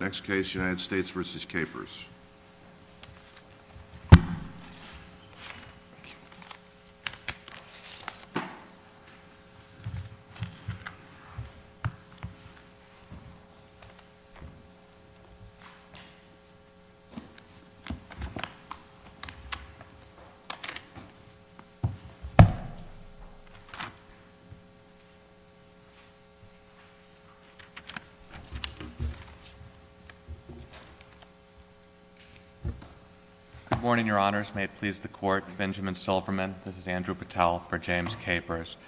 Next case United States v. Capers. Good morning, your honors. May it please the court, Benjamin Silverman. This is Andrew Patel for James Capers.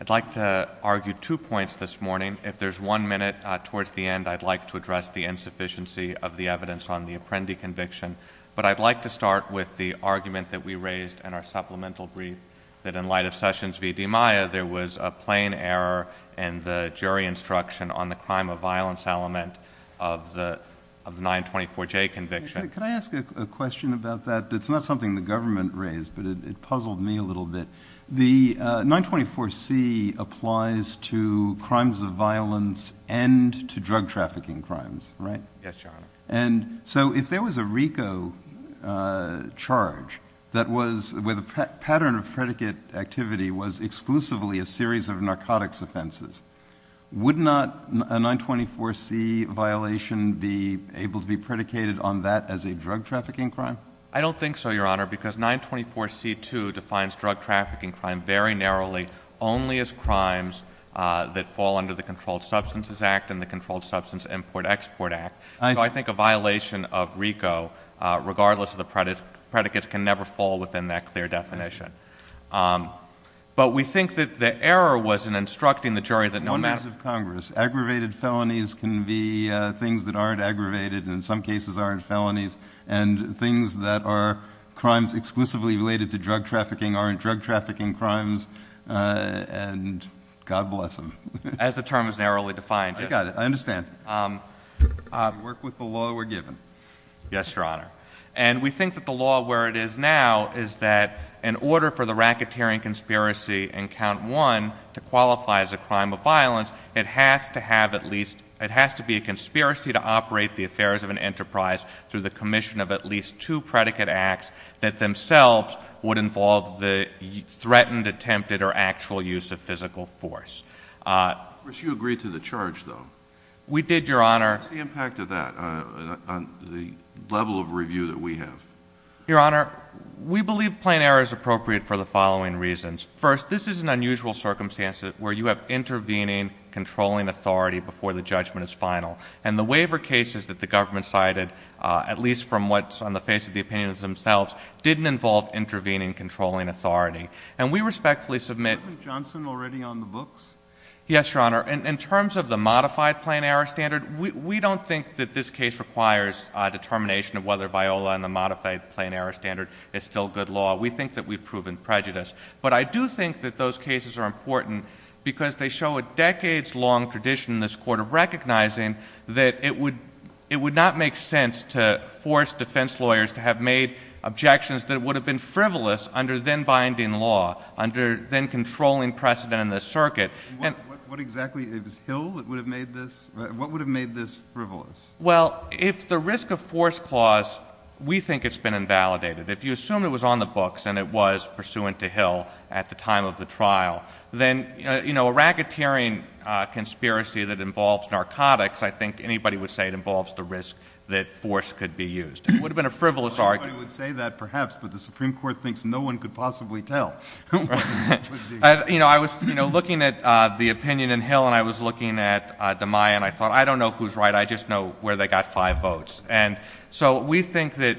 I'd like to argue two points this morning. If there's one minute towards the end, I'd like to address the insufficiency of the evidence on the Apprendi conviction. But I'd like to start with the argument that we raised in our supplemental brief that in light of Sessions v. DiMaia, there was a plain error in the jury instruction on the crime of violence element of the 924J conviction. Can I ask a question about that? It's not something the government raised, but it puzzled me a little bit. The 924C applies to crimes of violence and to drug trafficking crimes, right? Yes, your honor. And so if there was a RICO charge that was, where the pattern of predicate activity was a series of narcotics offenses, would not a 924C violation be able to be predicated on that as a drug trafficking crime? I don't think so, your honor, because 924C too defines drug trafficking crime very narrowly only as crimes that fall under the Controlled Substances Act and the Controlled Substance Import Export Act. So I think a violation of RICO, regardless of the predicates, can never fall within that clear definition. But we think that the error was in instructing the jury that no matter— In the eyes of Congress, aggravated felonies can be things that aren't aggravated, and in some cases aren't felonies, and things that are crimes exclusively related to drug trafficking aren't drug trafficking crimes, and God bless them. As the term is narrowly defined, yes. I got it. I understand. I work with the law we're given. Yes, your honor. And we think that the law where it is now is that in order for the racketeering conspiracy in count one to qualify as a crime of violence, it has to have at least—it has to be a conspiracy to operate the affairs of an enterprise through the commission of at least two predicate acts that themselves would involve the threatened, attempted, or actual use of physical force. But you agreed to the charge, though. We did, your honor. What's the impact of that on the level of review that we have? Your honor, we believe plain error is appropriate for the following reasons. First, this is an unusual circumstance where you have intervening, controlling authority before the judgment is final. And the waiver cases that the government cited, at least from what's on the face of the opinions themselves, didn't involve intervening, controlling authority. And we respectfully submit— Isn't Johnson already on the books? Yes, your honor. In terms of the modified plain error standard, we don't think that this case requires determination of whether Viola and the modified plain error standard is still good law. We think that we've proven prejudice. But I do think that those cases are important because they show a decades-long tradition in this court of recognizing that it would not make sense to force defense lawyers to have made objections that would have been frivolous under then-binding law, under then-controlling precedent in the circuit. What exactly—it was Hill that would have made this—what would have made this frivolous? Well, if the risk-of-force clause—we think it's been invalidated. If you assume it was on the books and it was pursuant to Hill at the time of the trial, then a racketeering conspiracy that involves narcotics, I think anybody would say it involves the risk that force could be used. It would have been a frivolous argument. Well, everybody would say that, perhaps, but the Supreme Court thinks no one could possibly tell. You know, I was looking at the opinion in Hill, and I was looking at DeMai, and I thought, I don't know who's right. I just know where they got five votes. And so we think that,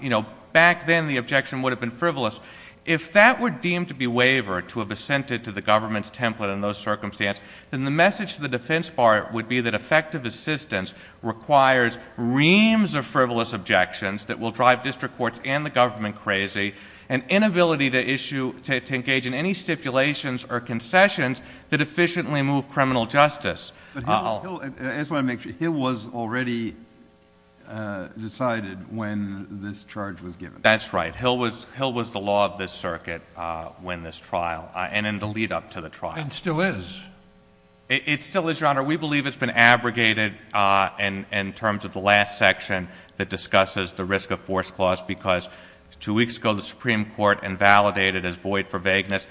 you know, back then the objection would have been frivolous. If that were deemed to be wavered, to have assented to the government's template in those circumstances, then the message to the defense part would be that effective assistance requires reams of frivolous objections that will drive district courts and the government crazy, and inability to issue, to engage in any stipulations or concessions that efficiently move criminal justice. But Hill, I just want to make sure, Hill was already decided when this charge was given? That's right. Hill was the law of this circuit when this trial, and in the lead-up to the trial. And still is. It still is, Your Honor. We believe it's been abrogated in terms of the last section that discusses the risk of Two weeks ago, the Supreme Court invalidated as void for vagueness,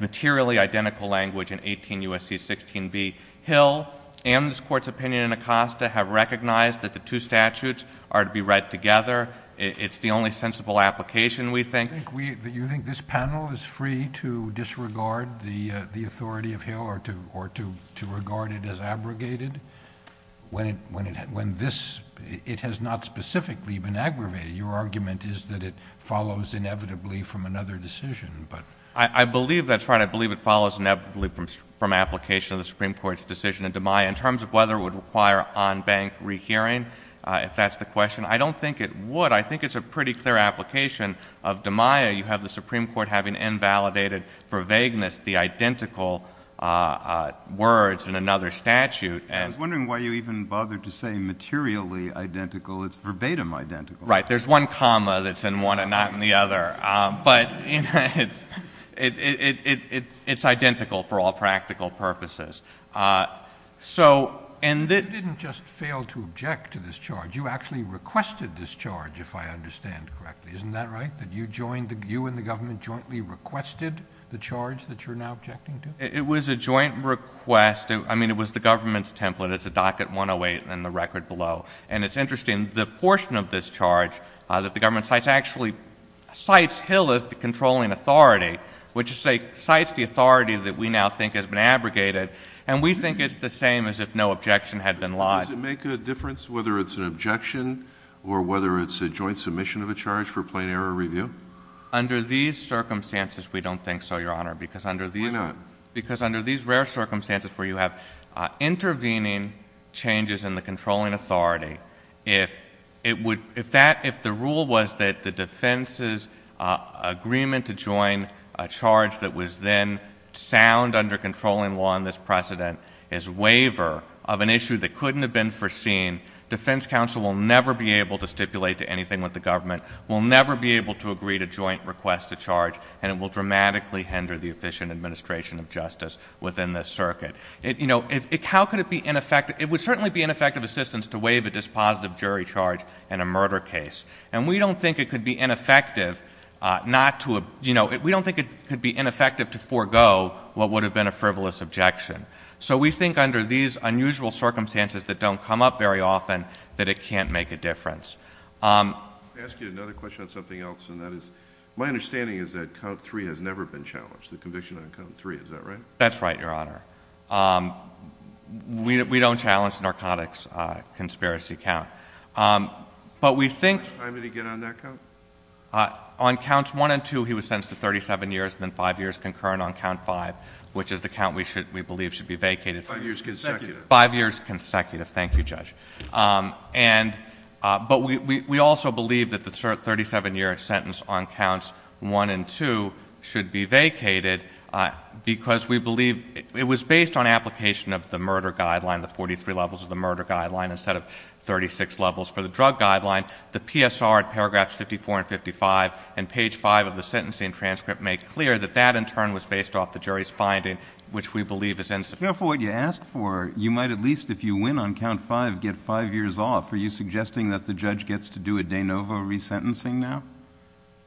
materially identical language in 18 U.S.C. 16b, Hill and this Court's opinion in Acosta have recognized that the two statutes are to be read together. It's the only sensible application, we think. You think this panel is free to disregard the authority of Hill or to regard it as abrogated? When this, it has not specifically been aggravated. Your argument is that it follows inevitably from another decision. I believe that's right. I believe it follows inevitably from application of the Supreme Court's decision in DiMaia. In terms of whether it would require on-bank rehearing, if that's the question, I don't think it would. I think it's a pretty clear application of DiMaia. You have the Supreme Court having invalidated for vagueness the identical words in another statute. I was wondering why you even bothered to say materially identical. It's verbatim identical. There's one comma that's in one and not in the other, but it's identical for all practical purposes. You didn't just fail to object to this charge. You actually requested this charge, if I understand correctly, isn't that right, that you joined the, you and the government jointly requested the charge that you're now objecting to? It was a joint request. I mean, it was the government's template. It's a docket 108 and the record below. And it's interesting, the portion of this charge that the government actually cites Hill as the controlling authority, which cites the authority that we now think has been abrogated, and we think it's the same as if no objection had been lodged. Does it make a difference whether it's an objection or whether it's a joint submission of a charge for plain error review? Under these circumstances, we don't think so, Your Honor, because under these rare circumstances where you have intervening changes in the controlling authority, if it would, if that, if the rule was that the defense's agreement to join a charge that was then sound under controlling law in this precedent is waiver of an issue that couldn't have been foreseen, defense counsel will never be able to stipulate to anything with the government, will never be able to agree to joint request to charge, and it will dramatically hinder the efficient administration of justice within this circuit. You know, how could it be ineffective? It would certainly be ineffective assistance to waive a dispositive jury charge in a murder case. And we don't think it could be ineffective not to, you know, we don't think it could be ineffective to forego what would have been a frivolous objection. So we think under these unusual circumstances that don't come up very often that it can't make a difference. I'll ask you another question on something else, and that is, my understanding is that count three has never been challenged, the conviction on count three, is that right? That's right, Your Honor. We don't challenge narcotics conspiracy count. But we think How much time did he get on that count? On counts one and two, he was sentenced to 37 years and then five years concurrent on count five, which is the count we should, we believe should be vacated. Five years consecutive. Five years consecutive, thank you, Judge. And, but we also believe that the 37-year sentence on counts one and two should be vacated because we believe it was based on application of the murder guideline, the 43 levels of the murder guideline instead of 36 levels for the drug guideline. The PSR at paragraphs 54 and 55 and page five of the sentencing transcript make clear that that in turn was based off the jury's finding, which we believe is insufficient. But if you're careful what you ask for, you might at least, if you win on count five, get five years off. Are you suggesting that the judge gets to do a de novo resentencing now?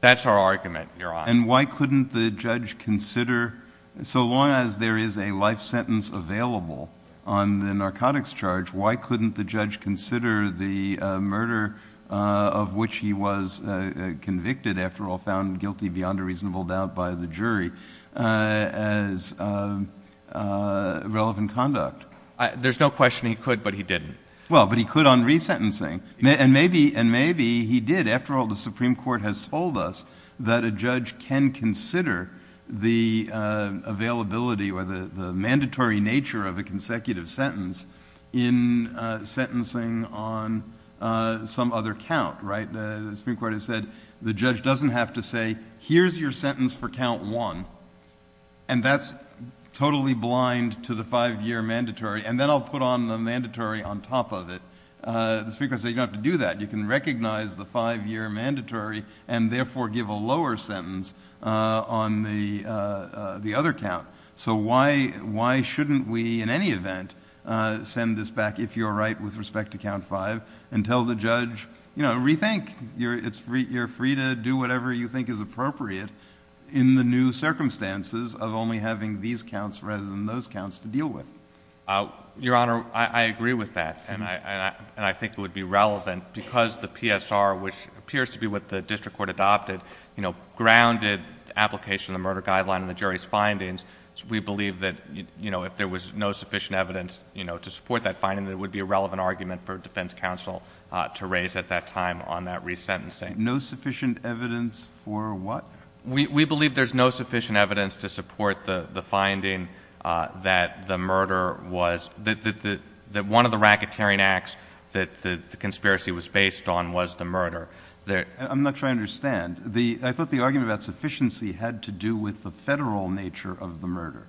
That's our argument, Your Honor. And why couldn't the judge consider, so long as there is a life sentence available on the narcotics charge, why couldn't the judge consider the murder of which he was convicted, after all found guilty beyond a reasonable doubt by the jury, as relevant conduct? There's no question he could, but he didn't. Well, but he could on resentencing. And maybe, and maybe he did. After all, the Supreme Court has told us that a judge can consider the availability or the mandatory nature of a consecutive sentence in sentencing on some other count, right? The Supreme Court has said the judge doesn't have to say, here's your sentence for count one, and that's totally blind to the five-year mandatory, and then I'll put on the mandatory on top of it. The Supreme Court said you don't have to do that. You can recognize the five-year mandatory and therefore give a lower sentence on the other count. So why shouldn't we, in any event, send this back, if you're right with respect to count five, and tell the judge, you know, rethink. You're free to do whatever you think is appropriate in the new circumstances of only having these counts rather than those counts to deal with? Your Honor, I agree with that, and I think it would be relevant because the PSR, which appears to be what the district court adopted, you know, grounded application of the murder guideline in the jury's findings. We believe that, you know, if there was no sufficient evidence, you know, to support that finding, that it would be a relevant argument for defense counsel to raise at that time on that resentencing. No sufficient evidence for what? We believe there's no sufficient evidence to support the finding that the murder was – that one of the racketeering acts that the conspiracy was based on was the murder. I'm not sure I understand. I thought the argument about sufficiency had to do with the federal nature of the murder.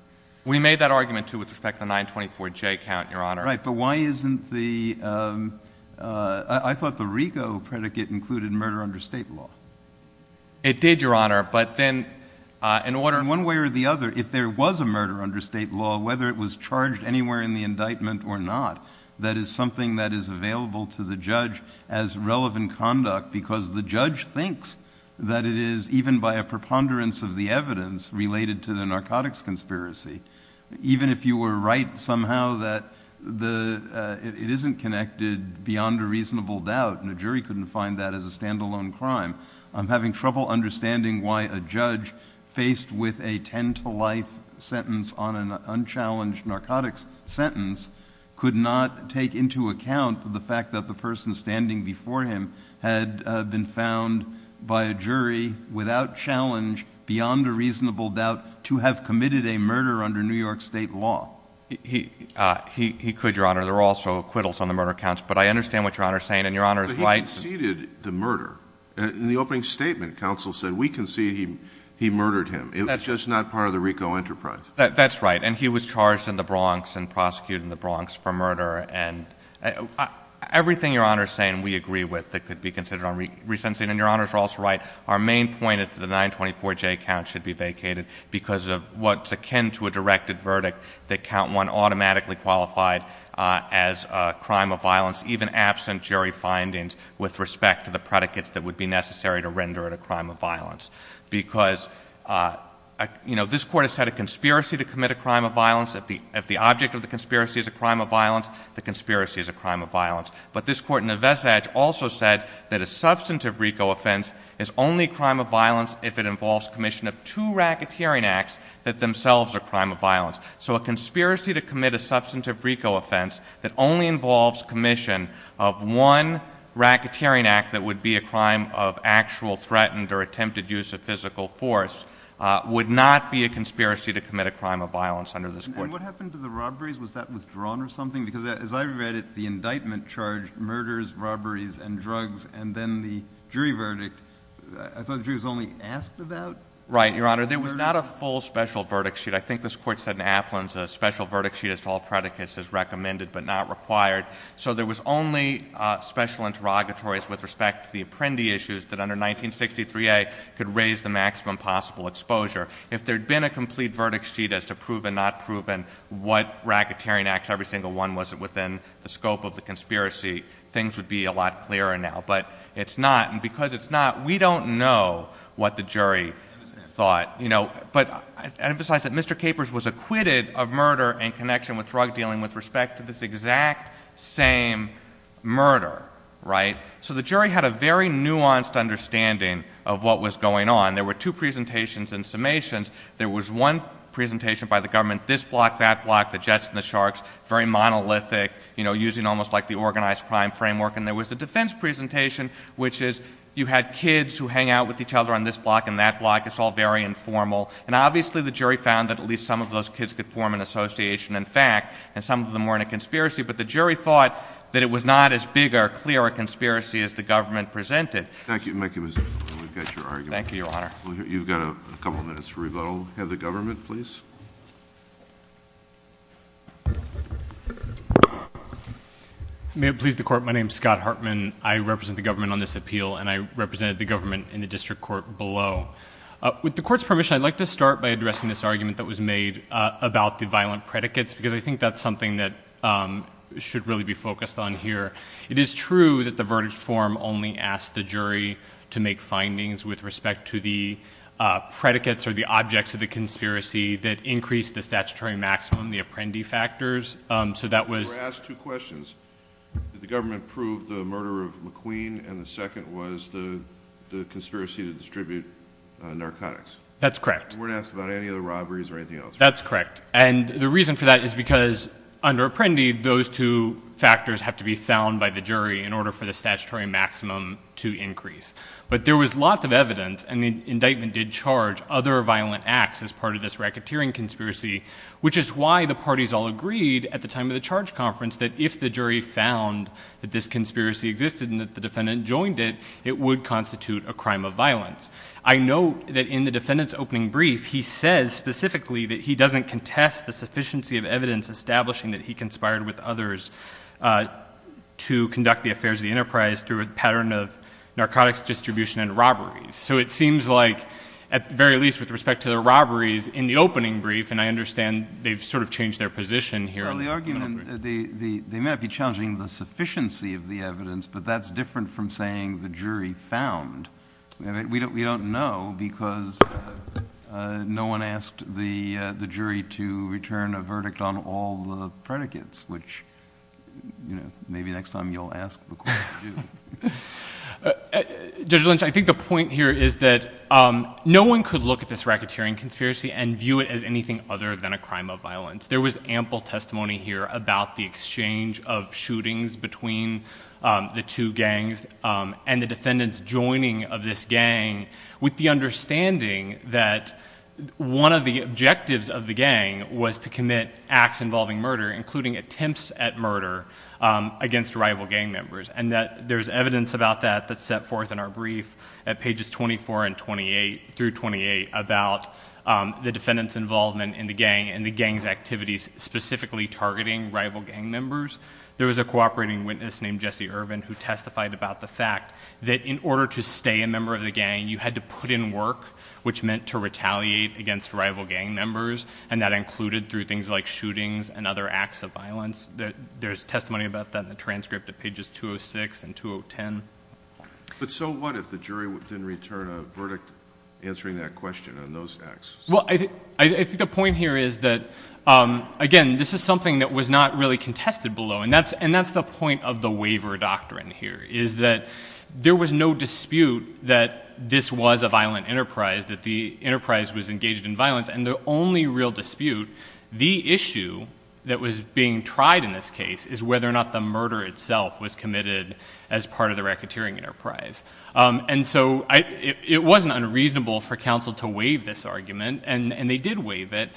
We made that argument, too, with respect to the 924J count, Your Honor. Right, but why isn't the – I thought the RICO predicate included murder under state law. It did, Your Honor, but then in order – In one way or the other, if there was a murder under state law, whether it was charged anywhere in the indictment or not, that is something that is available to the judge as relevant conduct because the judge thinks that it is, even by a preponderance of the evidence related to the narcotics conspiracy. Even if you were right somehow that the – it isn't connected beyond a reasonable doubt and the jury couldn't find that as a standalone crime, I'm having trouble understanding why a judge faced with a 10-to-life sentence on an unchallenged narcotics sentence could not take into account the fact that the person standing before him had been found by a jury without challenge, beyond a reasonable doubt, to have committed a murder under New York state law. He could, Your Honor. There were also acquittals on the murder counts, but I understand what Your Honor is saying, and Your Honor is right – But he conceded the murder. In the opening statement, counsel said, we concede he murdered him. It was just not part of the RICO enterprise. That's right, and he was charged in the Bronx and prosecuted in the Bronx for murder. Everything Your Honor is saying we agree with that could be considered on resensing, and Your Honor is also right, our main point is that the 924J count should be vacated because of what's akin to a directed verdict that count one automatically qualified as a crime of violence, even absent jury findings with respect to the predicates that would be necessary to render it a crime of violence, because, you know, this Court has said a conspiracy to commit a crime of violence, if the object of the conspiracy is a crime of violence, the conspiracy is a crime of violence. But this Court in the vestige also said that a substantive RICO offense is only a crime of violence if it involves commission of two racketeering acts that themselves are a crime of violence. So a conspiracy to commit a substantive RICO offense that only involves commission of one racketeering act that would be a crime of actual threatened or attempted use of physical force would not be a conspiracy to commit a crime of violence under this Court. And what happened to the robberies? Was that withdrawn or something? Because as I read it, the indictment charged murders, robberies, and drugs, and then the jury verdict. I thought the jury was only asked about the murder? Right, Your Honor. There was not a full special verdict sheet. I think this Court said in Applin's, a special verdict sheet as to all predicates is recommended but not required. So there was only special interrogatories with respect to the apprendee issues that under 1963A could raise the maximum possible exposure. If there had been a complete verdict sheet as to proven, not proven, what racketeering acts, every single one was within the scope of the conspiracy, things would be a lot clearer now. But it's not. And because it's not, we don't know what the jury thought. But I emphasize that Mr. Capers was acquitted of murder in connection with drug dealing with respect to this exact same murder, right? So the jury had a very nuanced understanding of what was going on. There were two presentations and summations. There was one presentation by the government, this block, that block, the Jets and the Sharks, very monolithic, you know, using almost like the organized crime framework. And there was a defense presentation which is you had kids who hang out with each other on this block and that block. It's all very informal. And obviously the jury found that at least some of those kids could form an association and fact and some of them weren't a conspiracy. But the jury thought that it was not as big or clear a conspiracy as the government presented. Thank you. Thank you, Mr. Capers. We've got your argument. Thank you, Your Honor. You've got a couple of minutes to rebuttal. Have the government, please. May it please the court, my name is Scott Hartman. I represent the government on this appeal and I represented the government in the district court below. With the court's permission, I'd like to start by addressing this argument that was made about the violent predicates because I think that's something that should really be focused on here. It is true that the verdict form only asked the jury to make findings with respect to the predicates or the objects of the conspiracy that increased the statutory maximum, the Apprendi factors. So that was... You were asked two questions. Did the government prove the murder of McQueen and the second was the conspiracy to distribute narcotics? That's correct. You weren't asked about any of the robberies or anything else. That's correct. And the reason for that is because under Apprendi, those two factors have to be found by the jury in order for the statutory maximum to increase. But there was lots of evidence and the indictment did charge other violent acts as part of this racketeering conspiracy, which is why the parties all agreed at the time of the charge conference that if the jury found that this conspiracy existed and that the defendant joined it, it would constitute a crime of violence. I know that in the defendant's opening brief, he says specifically that he doesn't contest the sufficiency of evidence establishing that he conspired with others to conduct the affairs of the enterprise through a pattern of narcotics distribution and robberies. So it seems like at the very least with respect to the robberies in the opening brief, and I understand they've sort of changed their position here. The argument, they may not be challenging the sufficiency of the evidence, but that's different from saying the jury found. We don't know because no one asked the jury to return a verdict on all the predicates, which maybe next time you'll ask the court to do. Judge Lynch, I think the point here is that no one could look at this racketeering conspiracy and view it as anything other than a crime of violence. There was ample testimony here about the exchange of shootings between the two gangs and the targeting of this gang with the understanding that one of the objectives of the gang was to commit acts involving murder, including attempts at murder against rival gang members. And that there's evidence about that that's set forth in our brief at pages 24 and 28 through 28 about the defendant's involvement in the gang and the gang's activities specifically targeting rival gang members. There was a cooperating witness named Jesse Urban who testified about the fact that in order to stay a member of the gang, you had to put in work, which meant to retaliate against rival gang members. And that included through things like shootings and other acts of violence. There's testimony about that in the transcript at pages 206 and 210. But so what if the jury didn't return a verdict answering that question on those acts? Well, I think the point here is that, again, this is something that was not really contested below. And that's the point of the waiver doctrine here, is that there was no dispute that this was a violent enterprise, that the enterprise was engaged in violence. And the only real dispute, the issue that was being tried in this case, is whether or not the murder itself was committed as part of the racketeering enterprise. And so it wasn't unreasonable for counsel to waive this argument, and they did waive it.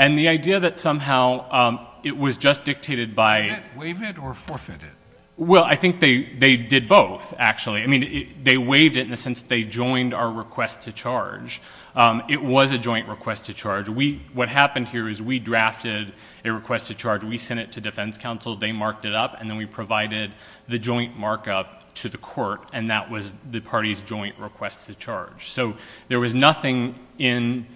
And the idea that somehow it was just dictated by Waive it or forfeit it? Well, I think they did both, actually. I mean, they waived it in the sense they joined our request to charge. It was a joint request to charge. What happened here is we drafted a request to charge. We sent it to defense counsel. They marked it up. And then we provided the joint markup to the court, and that was the party's joint request to charge. So there was nothing in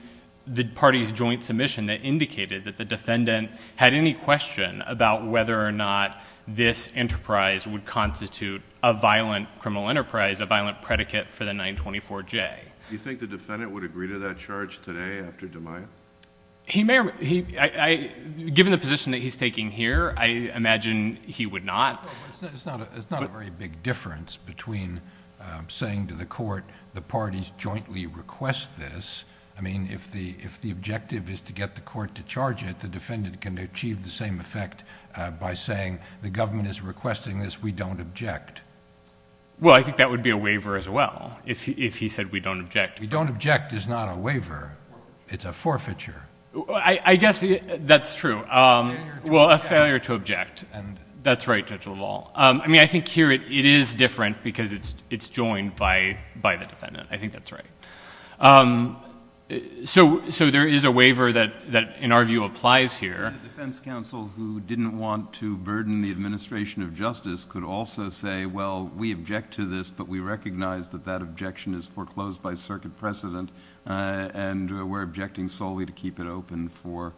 the party's joint submission that indicated that the defendant had any question about whether or not this enterprise would constitute a violent criminal enterprise, a violent predicate for the 924J. Do you think the defendant would agree to that charge today after DeMaio? Given the position that he's taking here, I imagine he would not. It's not a very big difference between saying to the court, the parties jointly request this. I mean, if the objective is to get the court to charge it, the defendant can achieve the same effect by saying the government is requesting this. We don't object. Well, I think that would be a waiver as well, if he said we don't object. We don't object is not a waiver. It's a forfeiture. I guess that's true. Well, a failure to object. That's right, Judge LaValle. I mean, I think here it is different because it's joined by the defendant. I think that's right. So there is a waiver that, in our view, applies here. A defense counsel who didn't want to burden the administration of justice could also say, well, we object to this, but we recognize that that objection is foreclosed by circuit precedent and we're objecting solely to keep it open for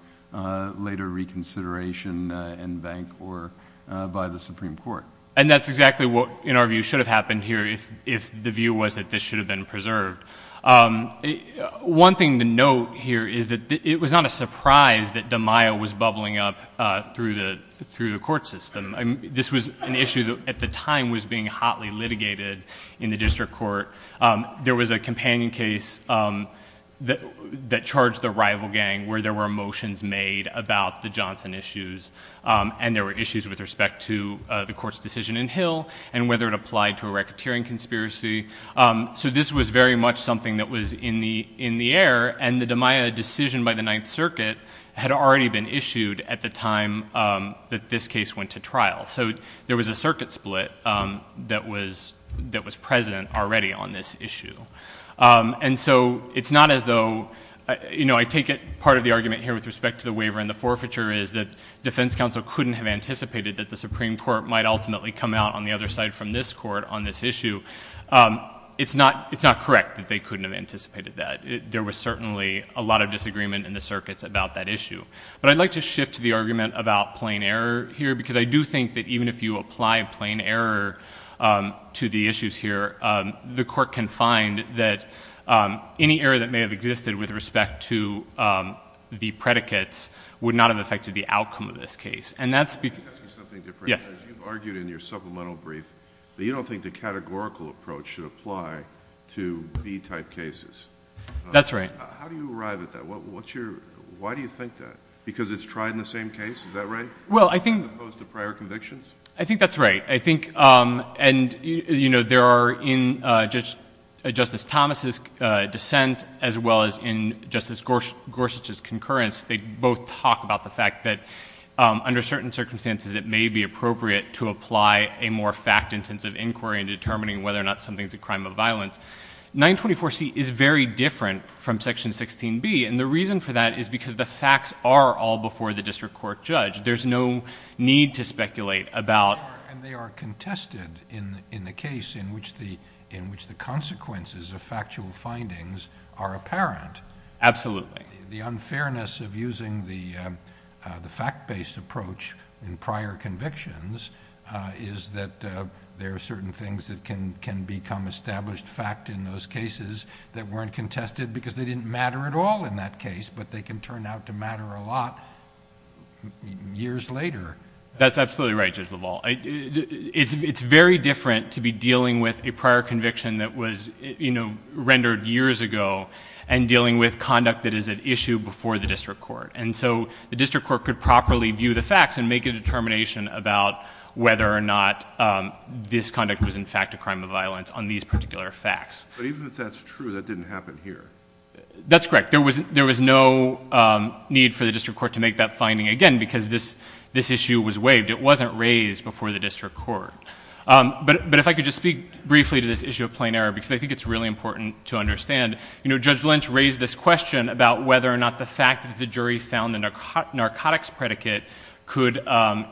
later reconsideration in bank or by the Supreme Court. And that's exactly what, in our view, should have happened here if the view was that this should have been preserved. One thing to note here is that it was not a surprise that DeMaio was bubbling up through the court system. This was an issue that, at the time, was being hotly litigated in the district court. There was a companion case that charged the rival gang where there were motions made about the Johnson issues and there were issues with respect to the court's decision in Hill and whether it applied to a racketeering conspiracy. So this was very much something that was in the air, and the DeMaio decision by the Ninth Circuit had already been issued at the time that this case went to trial. So there was a circuit split that was present already on this issue. And so it's not as though, you know, I take it, part of the argument here with respect to the waiver and the forfeiture is that defense counsel couldn't have anticipated that the It's not correct that they couldn't have anticipated that. There was certainly a lot of disagreement in the circuits about that issue. But I'd like to shift to the argument about plain error here because I do think that even if you apply plain error to the issues here, the court can find that any error that may have existed with respect to the predicates would not have affected the outcome of this case. And that's because— Let me ask you something different. Yes. You've argued in your supplemental brief that you don't think the categorical approach should apply to B-type cases. That's right. How do you arrive at that? What's your—why do you think that? Because it's tried in the same case? Is that right? Well, I think— As opposed to prior convictions? I think that's right. I think—and, you know, there are in Justice Thomas' dissent as well as in Justice Gorsuch's concurrence, they both talk about the fact that under certain circumstances it may be appropriate to apply a more fact-intensive inquiry in determining whether or not something is a crime of violence. 924C is very different from Section 16B, and the reason for that is because the facts are all before the district court judge. There's no need to speculate about— And they are contested in the case in which the consequences of factual findings are apparent. Absolutely. The unfairness of using the fact-based approach in prior convictions is that there are certain things that can become established fact in those cases that weren't contested because they didn't matter at all in that case, but they can turn out to matter a lot years later. That's absolutely right, Judge LaValle. It's very different to be dealing with a prior conviction that was, you know, rendered years ago, and dealing with conduct that is an issue before the district court. And so the district court could properly view the facts and make a determination about whether or not this conduct was, in fact, a crime of violence on these particular facts. But even if that's true, that didn't happen here. That's correct. There was no need for the district court to make that finding, again, because this issue was waived. It wasn't raised before the district court. But if I could just speak briefly to this issue of plain error, because I think it's really important to understand, you know, Judge Lynch raised this question about whether or not the fact that the jury found the narcotics predicate could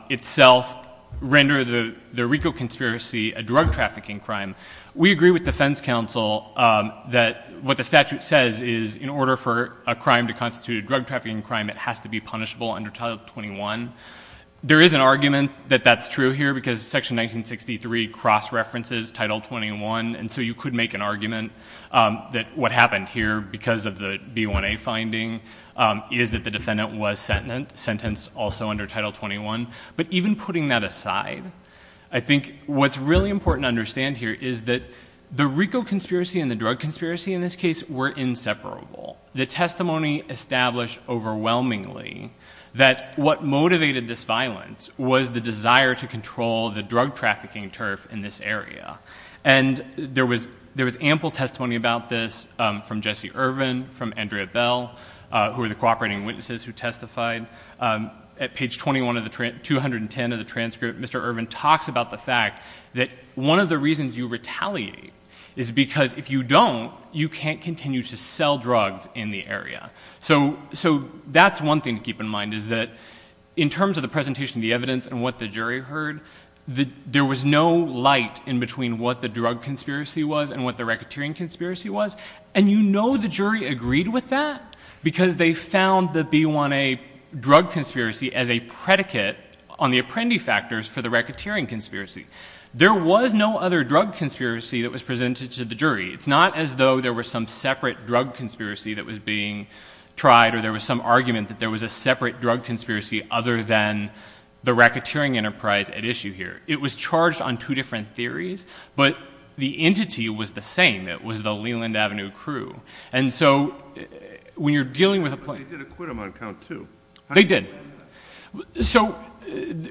itself render the RICO conspiracy a drug trafficking crime. We agree with defense counsel that what the statute says is in order for a crime to constitute a drug trafficking crime, it has to be punishable under Title XXI. There is an argument that that's true here, because Section 1963 cross-references Title XXI, and so you could make an argument that what happened here because of the B1A finding is that the defendant was sentenced also under Title XXI. But even putting that aside, I think what's really important to understand here is that the RICO conspiracy and the drug conspiracy in this case were inseparable. The testimony established overwhelmingly that what motivated this violence was the desire to control the drug trafficking turf in this area. And there was ample testimony about this from Jesse Ervin, from Andrea Bell, who were the cooperating witnesses who testified. At page 210 of the transcript, Mr. Ervin talks about the fact that one of the reasons you retaliate is because if you don't, you can't continue to sell drugs in the area. So that's one thing to keep in mind, is that in terms of the presentation of the evidence and what the jury heard, there was no light in between what the drug conspiracy was and what the racketeering conspiracy was. And you know the jury agreed with that, because they found the B1A drug conspiracy as a predicate on the apprendi factors for the racketeering conspiracy. There was no other drug conspiracy that was presented to the jury. It's not as though there was some separate drug conspiracy that was being tried, or there was some argument that there was a separate drug conspiracy other than the racketeering enterprise at issue here. It was charged on two different theories, but the entity was the same. It was the Leland Avenue crew. And so when you're dealing with a place... But they did acquit him on count two. They did. So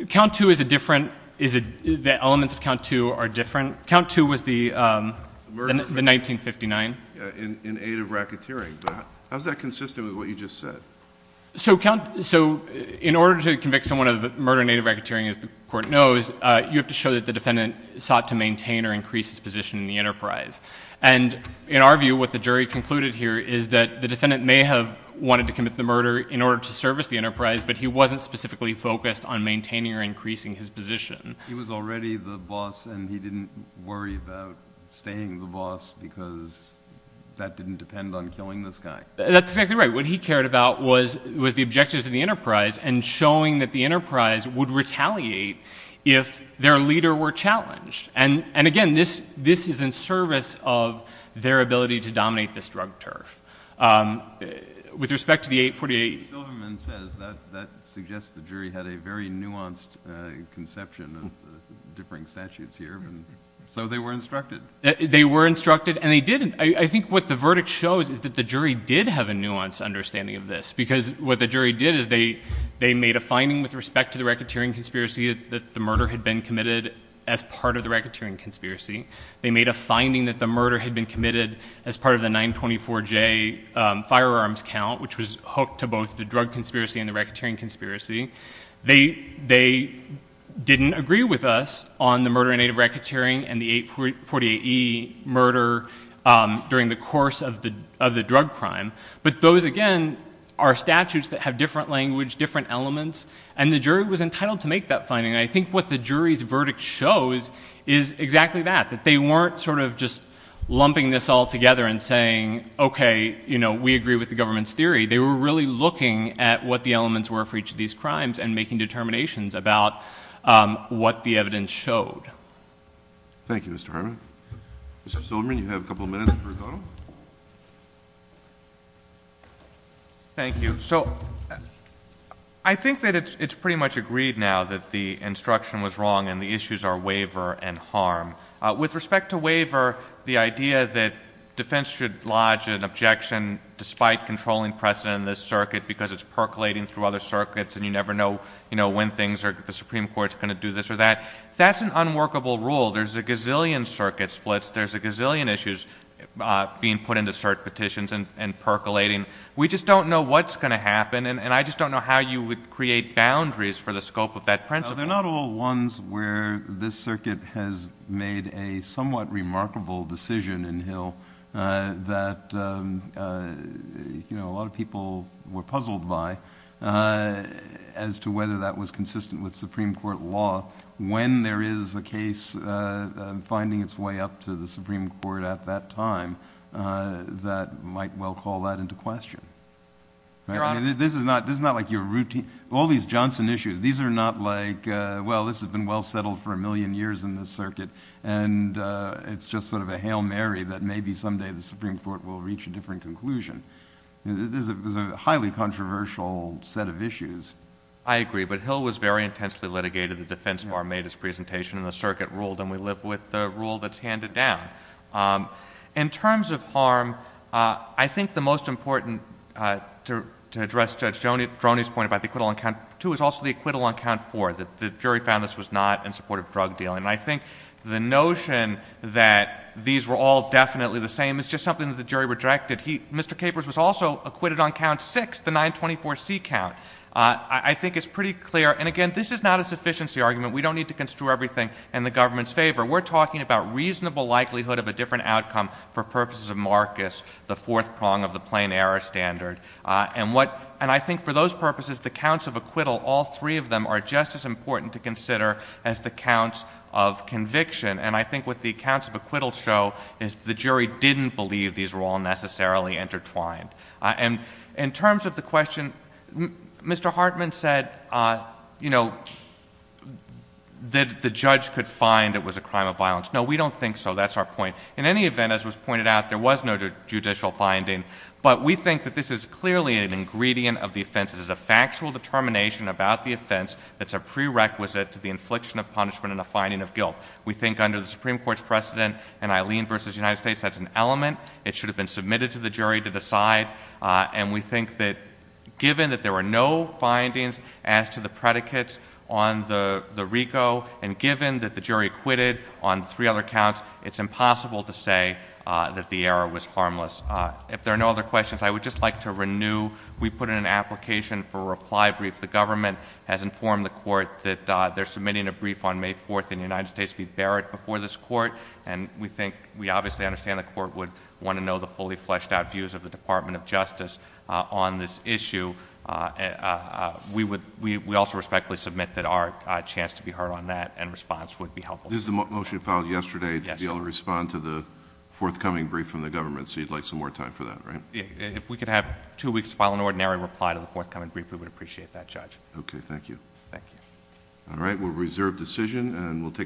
count two is a different, the elements of count two are different. Count two was the... The murder. The 1959. In aid of racketeering. How is that consistent with what you just said? So in order to convict someone of murder in aid of racketeering, as the court knows, you have to show that the defendant sought to maintain or increase his position in the enterprise. And in our view, what the jury concluded here is that the defendant may have wanted to commit the murder in order to service the enterprise, but he wasn't specifically focused on maintaining or increasing his position. He was already the boss, and he didn't worry about staying the boss, because that didn't depend on killing this guy. That's exactly right. What he cared about was the objectives of the enterprise, and showing that the enterprise would retaliate if their leader were challenged. And again, this is in service of their ability to dominate this drug turf. With respect to the 848... The Silverman says that suggests the jury had a very nuanced conception of the differing statutes here, and so they were instructed. They were instructed, and they didn't. I think what the verdict shows is that the jury did have a nuanced understanding of this, because what the jury did is they made a finding with respect to the racketeering conspiracy that the murder had been committed as part of the racketeering conspiracy. They made a finding that the murder had been committed as part of the 924J firearms count, which was hooked to both the drug conspiracy and the racketeering conspiracy. They didn't agree with us on the murder in aid of racketeering and the 848E murder during the course of the drug crime, but those, again, are statutes that have different language, different elements, and the jury was entitled to make that finding. I think what the jury's verdict shows is exactly that, that they weren't just lumping this all together and saying, okay, we agree with the government's theory. They were really looking at what the elements were for each of these crimes and making determinations about what the evidence showed. Thank you, Mr. Harmon. Mr. Silverman, you have a couple of minutes for rebuttal. Thank you. So I think that it's pretty much agreed now that the instruction was wrong and the issues are waiver and harm. With respect to waiver, the idea that defense should lodge an objection despite controlling precedent in this circuit because it's percolating through other circuits and you never know when the Supreme Court's going to do this or that, that's an unworkable rule. There's a gazillion circuit splits. There's a gazillion issues being put into cert petitions and percolating. We just don't know what's going to happen, and I just don't know how you would create boundaries for the scope of that principle. They're not all ones where this circuit has made a somewhat remarkable decision in Hill that a lot of people were puzzled by as to whether that was consistent with Supreme Court law when there is a case finding its way up to the Supreme Court at that time that might well call that into question. This is not like your routine... all these Johnson issues, these are not like, well, this has been well settled for a million years in this circuit, and it's just sort of a Hail to say the Supreme Court will reach a different conclusion. This is a highly controversial set of issues. I agree, but Hill was very intensely litigated. The defense bar made its presentation and the circuit ruled, and we live with the rule that's handed down. In terms of harm, I think the most important, to address Judge Droney's point about the acquittal on count two, is also the acquittal on count four, that the jury found this was not in support of drug dealing, and I think the notion that these were all definitely the same is just something that the jury rejected. Mr. Capers was also acquitted on count six, the 924C count. I think it's pretty clear, and again, this is not a sufficiency argument. We don't need to construe everything in the government's favor. We're talking about reasonable likelihood of a different outcome for purposes of Marcus, the fourth prong of the plain error standard. And I think for those purposes, the counts of acquittal, all three of them, are just as important to consider as the counts of conviction. And I think what the counts of acquittal show is the jury didn't believe these were all necessarily intertwined. And in terms of the question, Mr. Hartman said, you know, that the judge could find it was a crime of violence. No, we don't think so. That's our point. In any event, as was pointed out, there was no judicial finding, but we think that this is clearly an ingredient of the offense. This is a factual determination about the offense that's a prerequisite to the infliction of punishment and the finding of guilt. We think under the Supreme Court's precedent in Eileen v. United States, that's an element. It should have been submitted to the jury to decide. And we think that given that there were no findings as to the predicates on the RICO and given that the jury acquitted on three other counts, it's impossible to say that the error was harmless. If there are no other questions, I would just like to renew. We put in an application for a reply brief. The government has informed the court that they're submitting a brief on May 4th in the United States v. Barrett before this court. And we think, we obviously understand the court would want to know the fully fleshed out views of the Department of Justice on this issue. We would, we also respectfully submit that our chance to be heard on that and response would be helpful. This is the motion filed yesterday to be able to respond to the forthcoming brief from the government. So you'd like some more time for that, right? If we could have two weeks to file an ordinary reply to the forthcoming brief, we would appreciate that, Judge. Okay, thank you. Thank you. All right. We'll reserve decision and we'll take